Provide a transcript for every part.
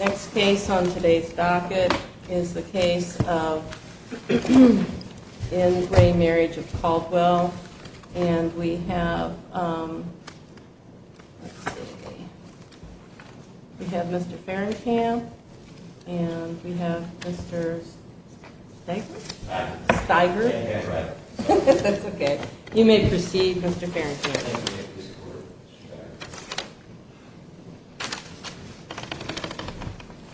Next case on today's docket is the case of In Gray Marriage of Caldwell. And we have, let's see, we have Mr. Farringham and we have Mr. Stiger. You may proceed Mr. Farringham.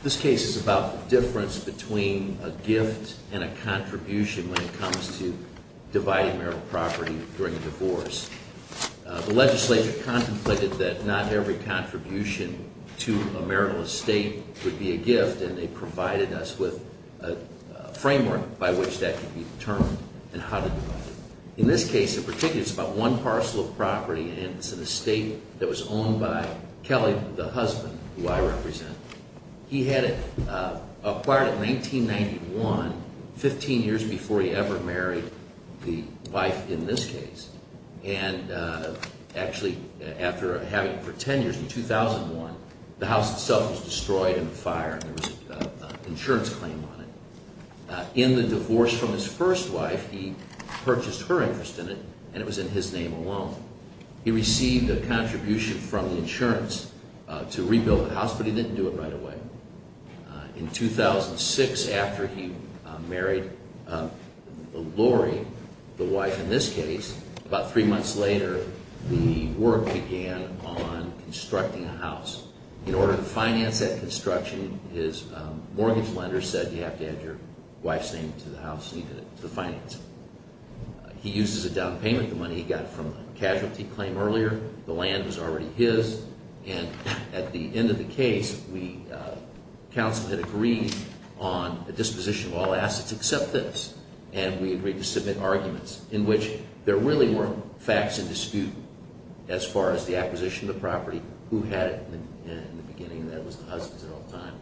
This case is about the difference between a gift and a contribution when it comes to dividing marital property during a divorce. The legislature contemplated that not every contribution to a marital estate would be a gift and they provided us with a framework by which that could be determined and how to divide it. In this case in particular it's about one parcel of property and it's an estate that was owned by Kelly, the husband, who I represent. He had it acquired in 1991, 15 years before he ever married the wife in this case. And actually after having it for 10 years in 2001, the house itself was destroyed in a fire and there was an insurance claim on it. In the divorce from his first wife he purchased her interest in it and it was in his name alone. He received a contribution from the insurance to rebuild the house but he didn't do it right away. In 2006 after he married Lori, the wife in this case, about three months later the work began on constructing a house. In order to finance that construction his mortgage lender said you have to add your wife's name to the house and he did it to finance it. He uses a down payment, the money he got from the casualty claim earlier. The land was already his and at the end of the case the council had agreed on a disposition of all assets except this. And we agreed to submit arguments in which there really weren't facts in dispute as far as the acquisition of the property, who had it in the beginning. That was the husband's at all times.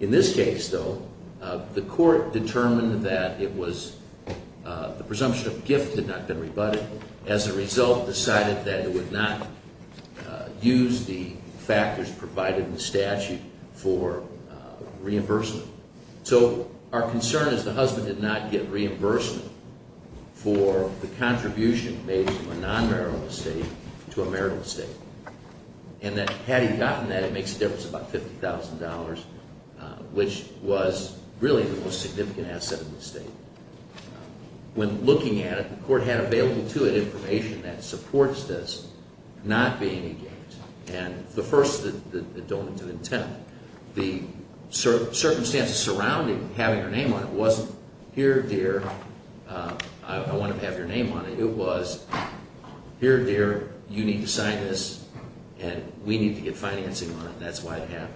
In this case though the court determined that it was the presumption of gift had not been rebutted. As a result decided that it would not use the factors provided in the statute for reimbursement. So our concern is the husband did not get reimbursement for the contribution made from a non-marital estate to a marital estate. And that had he gotten that it makes a difference of about $50,000 which was really the most significant asset of the estate. When looking at it the court had available to it information that supports this not being engaged. And the first, the dominant intent, the circumstances surrounding having her name on it wasn't here dear I want to have your name on it. It was here dear you need to sign this and we need to get financing on it and that's why it happened.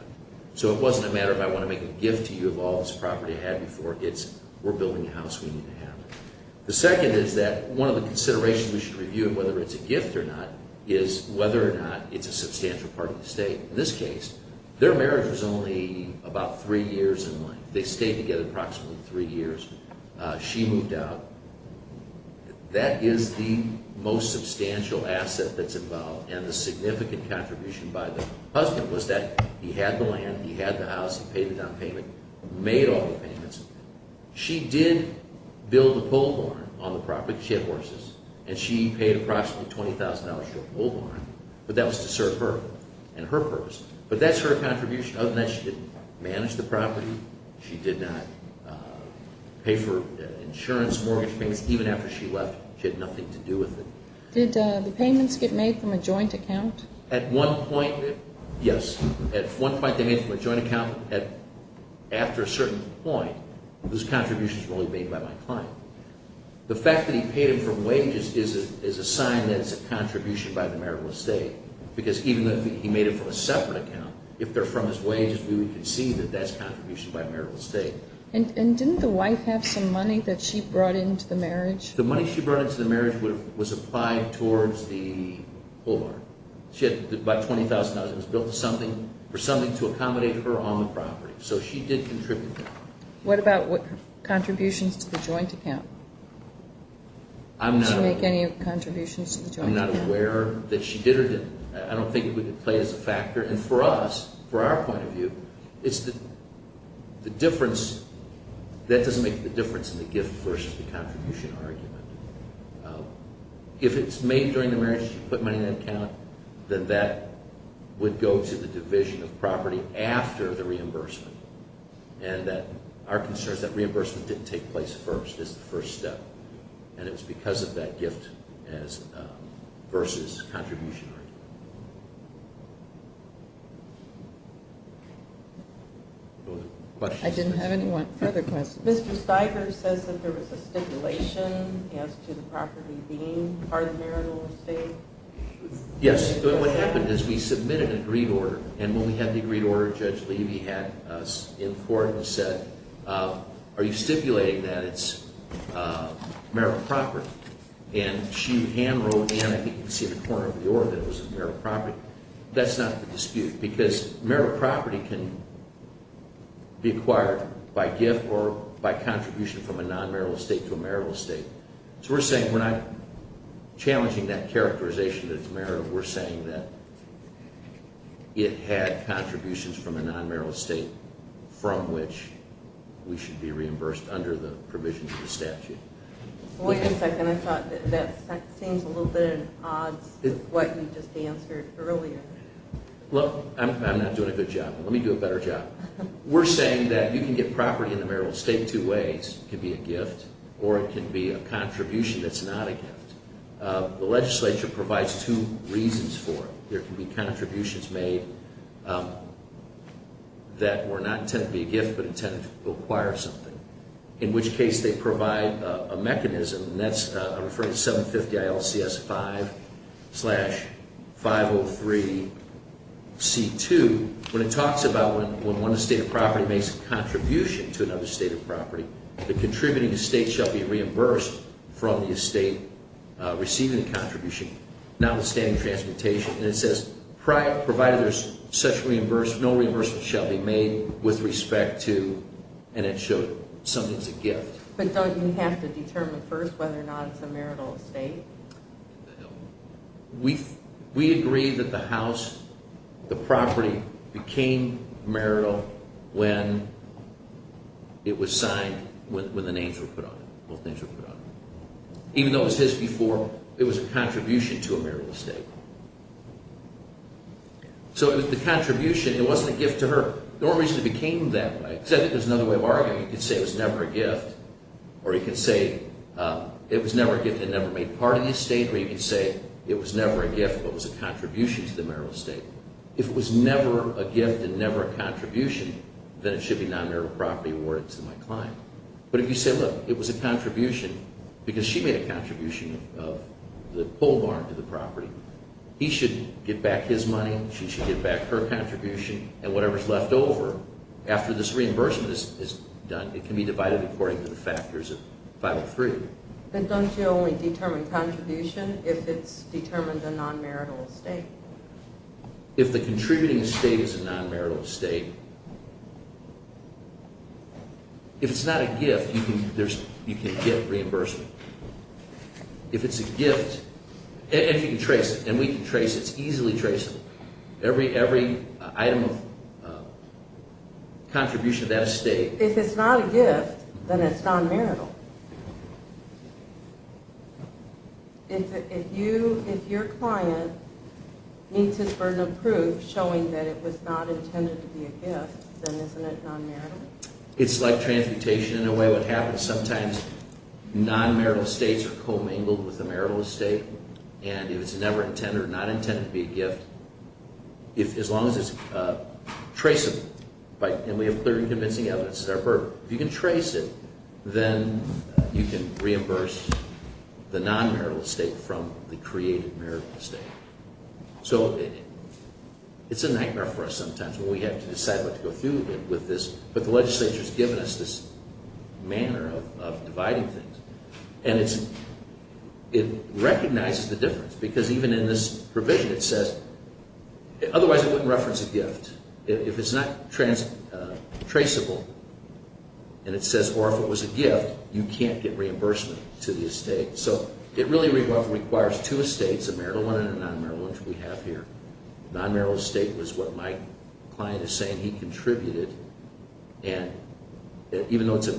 So it wasn't a matter of I want to make a gift to you of all this property I had before. It's we're building a house we need to have. The second is that one of the considerations we should review whether it's a gift or not is whether or not it's a substantial part of the estate. In this case their marriage was only about three years in length. They stayed together approximately three years. She moved out. That is the most substantial asset that's involved. And the significant contribution by the husband was that he had the land, he had the house, he paid the down payment, made all the payments. She did build a bull barn on the property. She had horses. And she paid approximately $20,000 for a bull barn. But that was to serve her and her purpose. But that's her contribution. Other than that she didn't manage the property. She did not pay for insurance, mortgage payments. Even after she left she had nothing to do with it. Did the payments get made from a joint account? At one point, yes. At one point they made from a joint account. After a certain point those contributions were only made by my client. The fact that he paid them from wages is a sign that it's a contribution by the marital estate. Because even though he made it from a separate account, if they're from his wages we can see that that's a contribution by marital estate. And didn't the wife have some money that she brought into the marriage? The money she brought into the marriage was applied towards the bull barn. She had about $20,000. It was built for something to accommodate her on the property. So she did contribute. What about contributions to the joint account? Did she make any contributions to the joint account? I'm not aware that she did or didn't. I don't think it would play as a factor. And for us, for our point of view, that doesn't make the difference in the gift versus the contribution argument. If it's made during the marriage, she put money in that account, then that would go to the division of property after the reimbursement. And our concern is that reimbursement didn't take place first. It's the first step. And it was because of that gift versus contribution argument. I didn't have any further questions. Mr. Stiger says that there was a stipulation as to the property being part of marital estate. Yes, but what happened is we submitted an agreed order. And when we had the agreed order, Judge Levy had us in court and said, Are you stipulating that it's marital property? And she hand wrote in, I think you can see the corner of the order, that it was marital property. That's not the dispute because marital property can be acquired by gift or by contribution from a non-marital estate to a marital estate. So we're saying we're not challenging that characterization that it's marital. We're saying that it had contributions from a non-marital estate from which we should be reimbursed under the provisions of the statute. Wait a second. I thought that seems a little bit at odds with what you just answered earlier. Look, I'm not doing a good job. Let me do a better job. We're saying that you can get property in the marital estate two ways. It can be a gift or it can be a contribution that's not a gift. The legislature provides two reasons for it. There can be contributions made that were not intended to be a gift but intended to acquire something. In which case they provide a mechanism and that's, I'm referring to 750-IL-CS-5-503-C2. When it talks about when one estate of property makes a contribution to another estate of property, the contributing estate shall be reimbursed from the estate receiving the contribution notwithstanding transportation. And it says provided there's such reimbursement, no reimbursement shall be made with respect to, and it showed something's a gift. But don't you have to determine first whether or not it's a marital estate? We agree that the house, the property became marital when it was signed, when the names were put on it, both names were put on it. Even though it was his before, it was a contribution to a marital estate. So it was the contribution. It wasn't a gift to her. The only reason it became that way, except there's another way of arguing. You can say it was never a gift, or you can say it was never a gift and never made part of the estate, or you can say it was never a gift but was a contribution to the marital estate. If it was never a gift and never a contribution, then it should be non-marital property awarded to my client. But if you say, look, it was a contribution because she made a contribution of the pole barn to the property. He should get back his money, she should get back her contribution, and whatever's left over after this reimbursement is done, it can be divided according to the factors of 503. Then don't you only determine contribution if it's determined a non-marital estate? If the contributing estate is a non-marital estate, if it's not a gift, you can get reimbursement. If it's a gift, and you can trace it, and we can trace it, it's easily traceable. Every item of contribution to that estate... If it's not a gift, then it's non-marital. If your client meets his burden of proof showing that it was not intended to be a gift, then isn't it non-marital? It's like transmutation in a way. What happens sometimes, non-marital estates are commingled with a marital estate, and if it's never intended or not intended to be a gift, as long as it's traceable, and we have clear and convincing evidence that it's our burden, if you can trace it, then you can reimburse the non-marital estate from the created marital estate. It's a nightmare for us sometimes when we have to decide what to go through with this, but the legislature has given us this manner of dividing things. And it recognizes the difference, because even in this provision it says... Otherwise it wouldn't reference a gift. If it's not traceable, and it says, or if it was a gift, you can't get reimbursement to the estate. So it really requires two estates, a marital one and a non-marital one, which we have here. Non-marital estate was what my client is saying he contributed, and even though it's a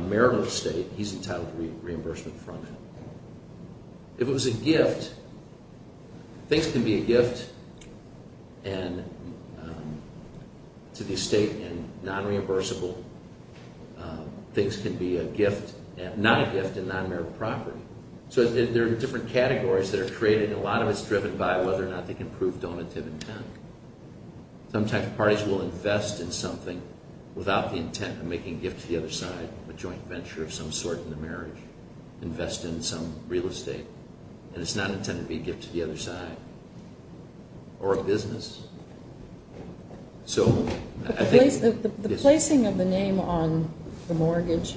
marital estate, he's entitled to reimbursement from it. If it was a gift, things can be a gift to the estate and non-reimbursable. Things can be a gift, not a gift, in non-marital property. So there are different categories that are created, and a lot of it's driven by whether or not they can prove donative intent. Some types of parties will invest in something without the intent of making a gift to the other side, a joint venture of some sort in the marriage, invest in some real estate, and it's not intended to be a gift to the other side, or a business. The placing of the name on the mortgage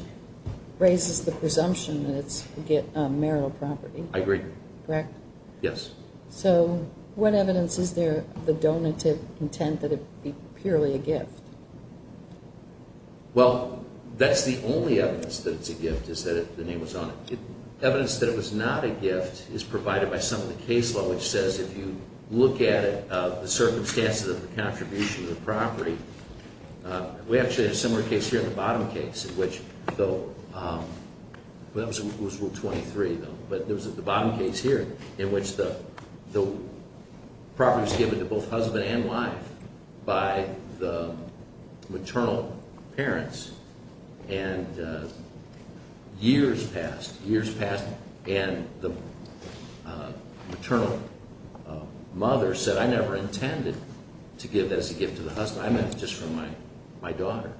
raises the presumption that it's marital property. I agree. Correct? Yes. So what evidence is there of the donative intent that it'd be purely a gift? Well, that's the only evidence that it's a gift is that the name was on it. Evidence that it was not a gift is provided by some of the case law, which says if you look at it, the circumstances of the contribution to the property, we actually had a similar case here in the bottom case in which, though, that was Rule 23, though, but it was the bottom case here in which the property was given to both husband and wife by the maternal parents, and years passed, years passed, and the maternal mother said, I never intended to give that as a gift to the husband. I meant it just for my daughter.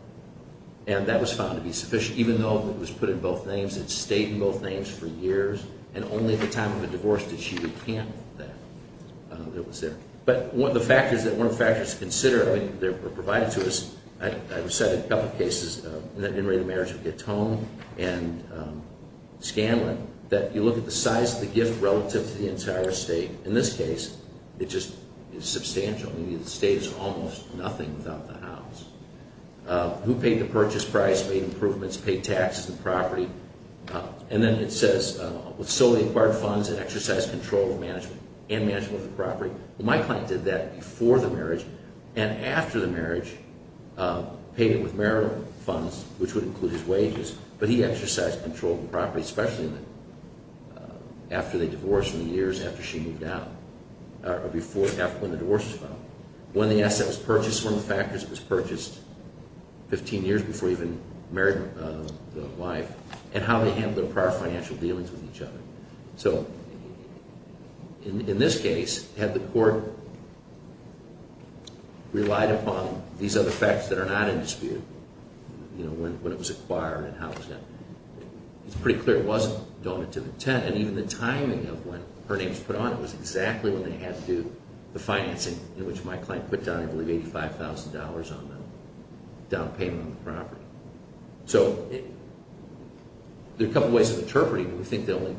And that was found to be sufficient. Even though it was put in both names, it stayed in both names for years, and only at the time of the divorce did she recant that. But one of the factors to consider, I mean, they were provided to us, I've cited a couple of cases in the marriage of Gatone and Scanlon, that you look at the size of the gift relative to the entire estate. In this case, it just is substantial. I mean, the estate is almost nothing without the house. Who paid the purchase price, made improvements, paid taxes on the property? And then it says, with solely acquired funds, and exercised control of management, and management of the property. Well, my client did that before the marriage, and after the marriage, paid it with marital funds, which would include his wages, but he exercised control of the property, especially after they divorced in the years after she moved out, or before, after when the divorce was filed. When the asset was purchased, one of the factors was purchased, 15 years before he even married the wife, and how they handled their prior financial dealings with each other. So, in this case, had the court relied upon these other factors that are not in dispute, you know, when it was acquired, and how it was done, it's pretty clear it wasn't donative intent, and even the timing of when her name was put on it was exactly what they had to do. The financing, in which my client put down, I believe, $85,000 on the down payment on the property. So, there are a couple ways of interpreting it. We think the only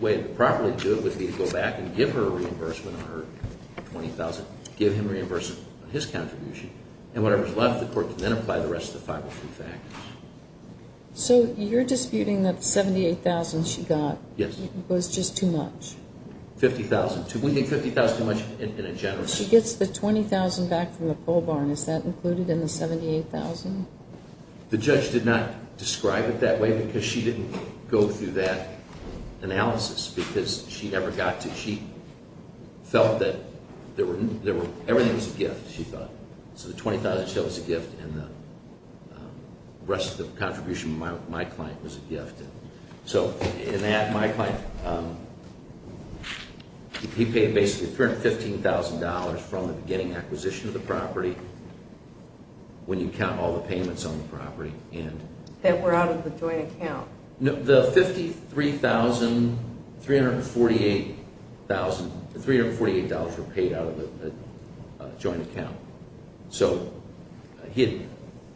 way to properly do it would be to go back and give her a reimbursement on her $20,000, give him a reimbursement on his contribution, and whatever's left, the court can then apply the rest of the 503 factors. So, you're disputing that the $78,000 she got was just too much? $50,000. We think $50,000 is too much in a general sense. She gets the $20,000 back from the pole barn. Is that included in the $78,000? The judge did not describe it that way, because she didn't go through that analysis, because she felt that everything was a gift, she thought. So, the $20,000 she got was a gift, and the rest of the contribution from my client was a gift. So, in that, my client, he paid basically $315,000 from the beginning acquisition of the property, when you count all the payments on the property. That were out of the joint account? The $53,348 were paid out of the joint account. So, he had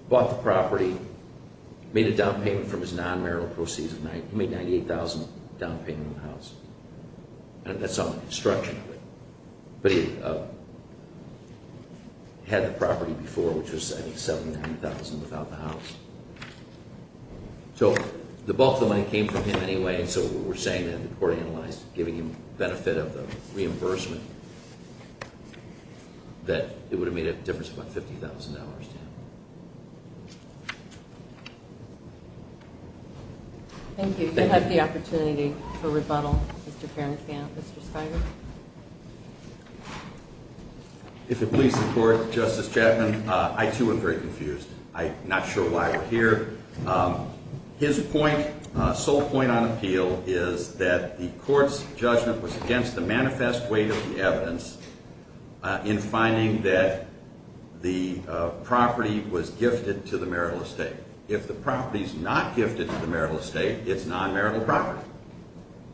bought the property, made a down payment from his non-marital proceeds, he made $98,000 down payment on the house. And that's on the construction of it. But he had the property before, which was I think $79,000 without the house. So, the bulk of the money came from him anyway, so we're saying that the court analyzed, giving him benefit of the reimbursement, that it would have made a difference of about $50,000 to him. Thank you. You have the opportunity for rebuttal, Mr. Carrington. Mr. Skiger? If it pleases the court, Justice Chapman, I too am very confused. I'm not sure why we're here. His point, sole point on appeal, is that the court's judgment was against the manifest weight of the evidence in finding that the property was gifted to the marital estate. If the property's not gifted to the marital estate, it's non-marital property.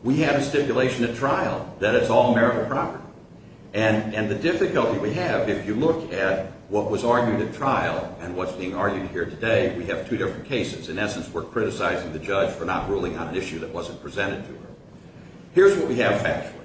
We had a stipulation at trial that it's all marital property. And the difficulty we have, if you look at what was argued at trial and what's being argued here today, we have two different cases. In essence, we're criticizing the judge for not ruling on an issue that wasn't presented to her. Here's what we have factually.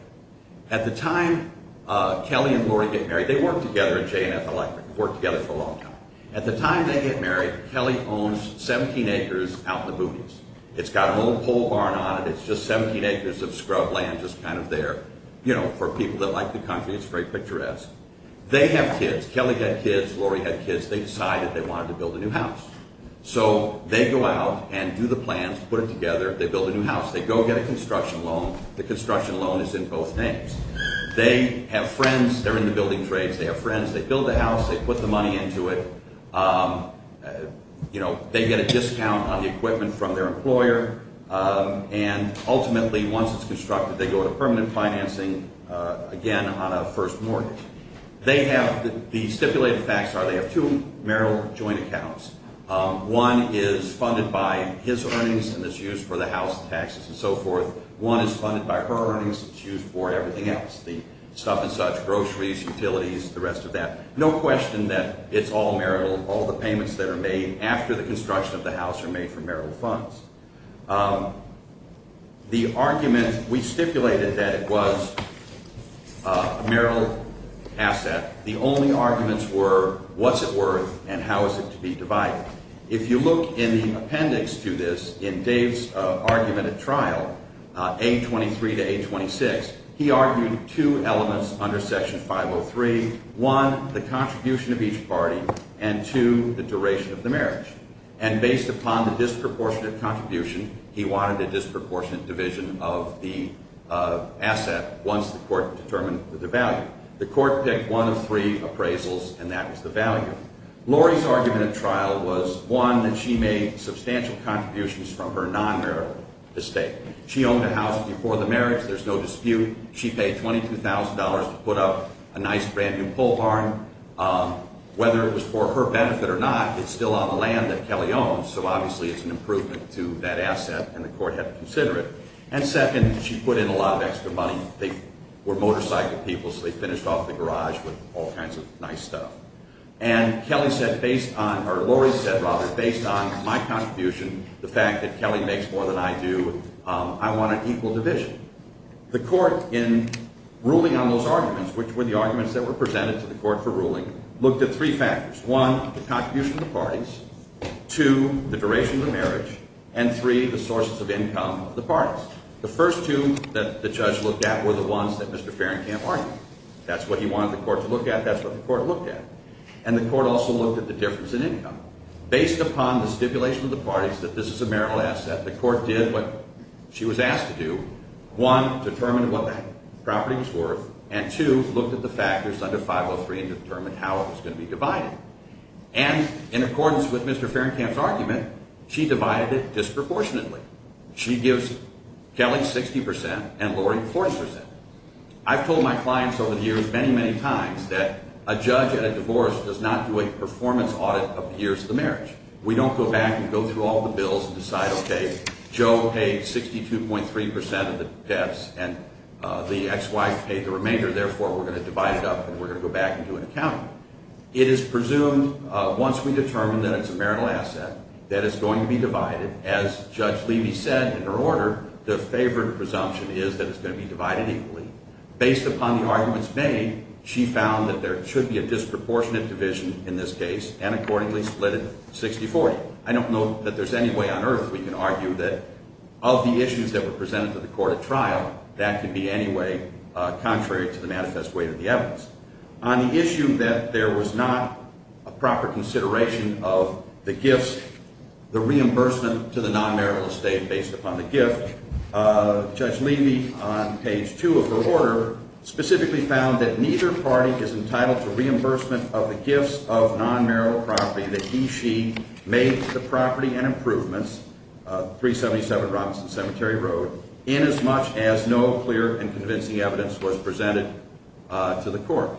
At the time Kelly and Lori get married, they worked together at JNF Electric, worked together for a long time. At the time they get married, Kelly owns 17 acres out in the boonies. It's got an old pole barn on it. It's just 17 acres of scrub land just kind of there. For people that like the country, it's very picturesque. They have kids. Kelly had kids. Lori had kids. They decided they wanted to build a new house. So they go out and do the plans, put it together. They build a new house. They go get a construction loan. The construction loan is in both names. They have friends. They're in the building trades. They have friends. They build the house. They put the money into it. They get a discount on the equipment from their employer. And ultimately, once it's constructed, they go to permanent financing, again, on a first mortgage. The stipulated facts are they have two marital joint accounts. One is funded by his earnings, and it's used for the house taxes and so forth. One is funded by her earnings. It's used for everything else, the stuff and such, groceries, utilities, the rest of that. No question that it's all marital. All the payments that are made after the construction of the house are made from marital funds. The argument, we stipulated that it was a marital asset. The only arguments were what's it worth and how is it to be divided. If you look in the appendix to this, in Dave's argument at trial, A23 to A26, he argued two elements under Section 503. One, the contribution of each party, and two, the duration of the marriage. And based upon the disproportionate contribution, he wanted a disproportionate division of the asset once the court determined the value. The court picked one of three appraisals, and that was the value. Lori's argument at trial was, one, that she made substantial contributions from her non-marital estate. She owned a house before the marriage. There's no dispute. She paid $22,000 to put up a nice brand-new pole barn. Whether it was for her benefit or not, it's still on the land that Kelly owns, so obviously it's an improvement to that asset, and the court had to consider it. And second, she put in a lot of extra money. They were motorcycle people, so they finished off the garage with all kinds of nice stuff. And Kelly said based on, or Lori said, rather, based on my contribution, the fact that Kelly makes more than I do, I want an equal division. The court, in ruling on those arguments, which were the arguments that were presented to the court for ruling, looked at three factors. One, the contribution of the parties. Two, the duration of the marriage. And three, the sources of income of the parties. The first two that the judge looked at were the ones that Mr. Farringham argued. That's what he wanted the court to look at. That's what the court looked at. And the court also looked at the difference in income. Based upon the stipulation of the parties that this is a marital asset, the court did what she was asked to do. One, determined what that property was worth, and two, looked at the factors under 503 and determined how it was going to be divided. And in accordance with Mr. Farringham's argument, she divided it disproportionately. She gives Kelly 60% and Lori 40%. I've told my clients over the years many, many times that a judge at a divorce does not do a performance audit of the years of the marriage. We don't go back and go through all the bills and decide, okay, Joe paid 62.3% of the debts and the ex-wife paid the remainder, therefore we're going to divide it up and we're going to go back and do an accounting. It is presumed once we determine that it's a marital asset that it's going to be divided. As Judge Levy said in her order, the favored presumption is that it's going to be divided equally. Based upon the arguments made, she found that there should be a disproportionate division in this case and accordingly split it 60-40. I don't know that there's any way on earth we can argue that of the issues that were presented to the court at trial, that could be any way contrary to the manifest weight of the evidence. On the issue that there was not a proper consideration of the gifts, the reimbursement to the non-marital estate based upon the gift, Judge Levy, on page 2 of her order, specifically found that neither party is entitled to reimbursement of the gifts of non-marital property that he, she made to the property and improvements, 377 Robinson Cemetery Road, inasmuch as no clear and convincing evidence was presented to the court.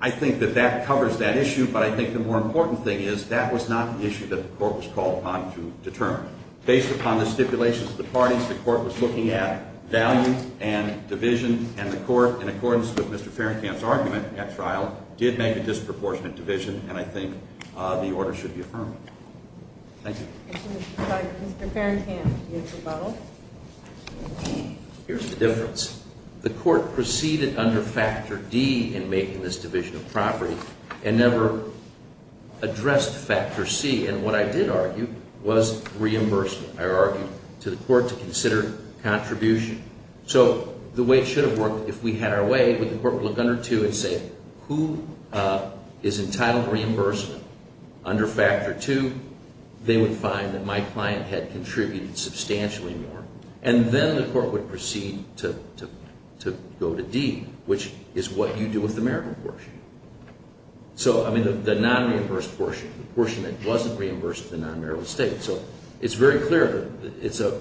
I think that that covers that issue, but I think the more important thing is that was not an issue that the court was called upon to determine. Based upon the stipulations of the parties, the court was looking at value and division and the court, in accordance with Mr. Farringham's argument at trial, did make a disproportionate division and I think the order should be affirmed. Thank you. Mr. Farringham, do you have a rebuttal? Here's the difference. The court proceeded under Factor D in making this division of property and never addressed Factor C. And what I did argue was reimbursement, I argued, to the court to consider contribution. So the way it should have worked, if we had our way, would the court look under 2 and say, who is entitled to reimbursement under Factor 2? They would find that my client had contributed substantially more. And then the court would proceed to go to D, which is what you do with the marital portion. So, I mean, the non-reimbursed portion, the portion that wasn't reimbursed to the non-marital estate. So it's very clear that it's a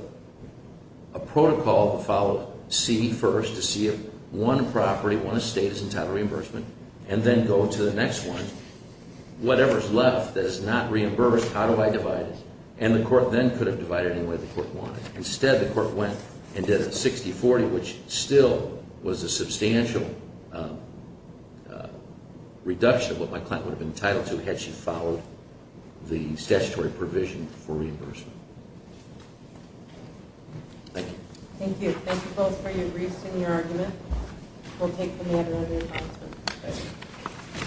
protocol to follow C first to see if one property, one estate is entitled to reimbursement, and then go to the next one. Whatever is left that is not reimbursed, how do I divide it? And the court then could have divided it any way the court wanted. Instead, the court went and did a 60-40, which still was a substantial reduction of what my client would have been entitled to had she followed the statutory provision for reimbursement. Thank you. Thank you. Thank you both for your briefs and your argument. We'll take the matter under consideration. Thank you.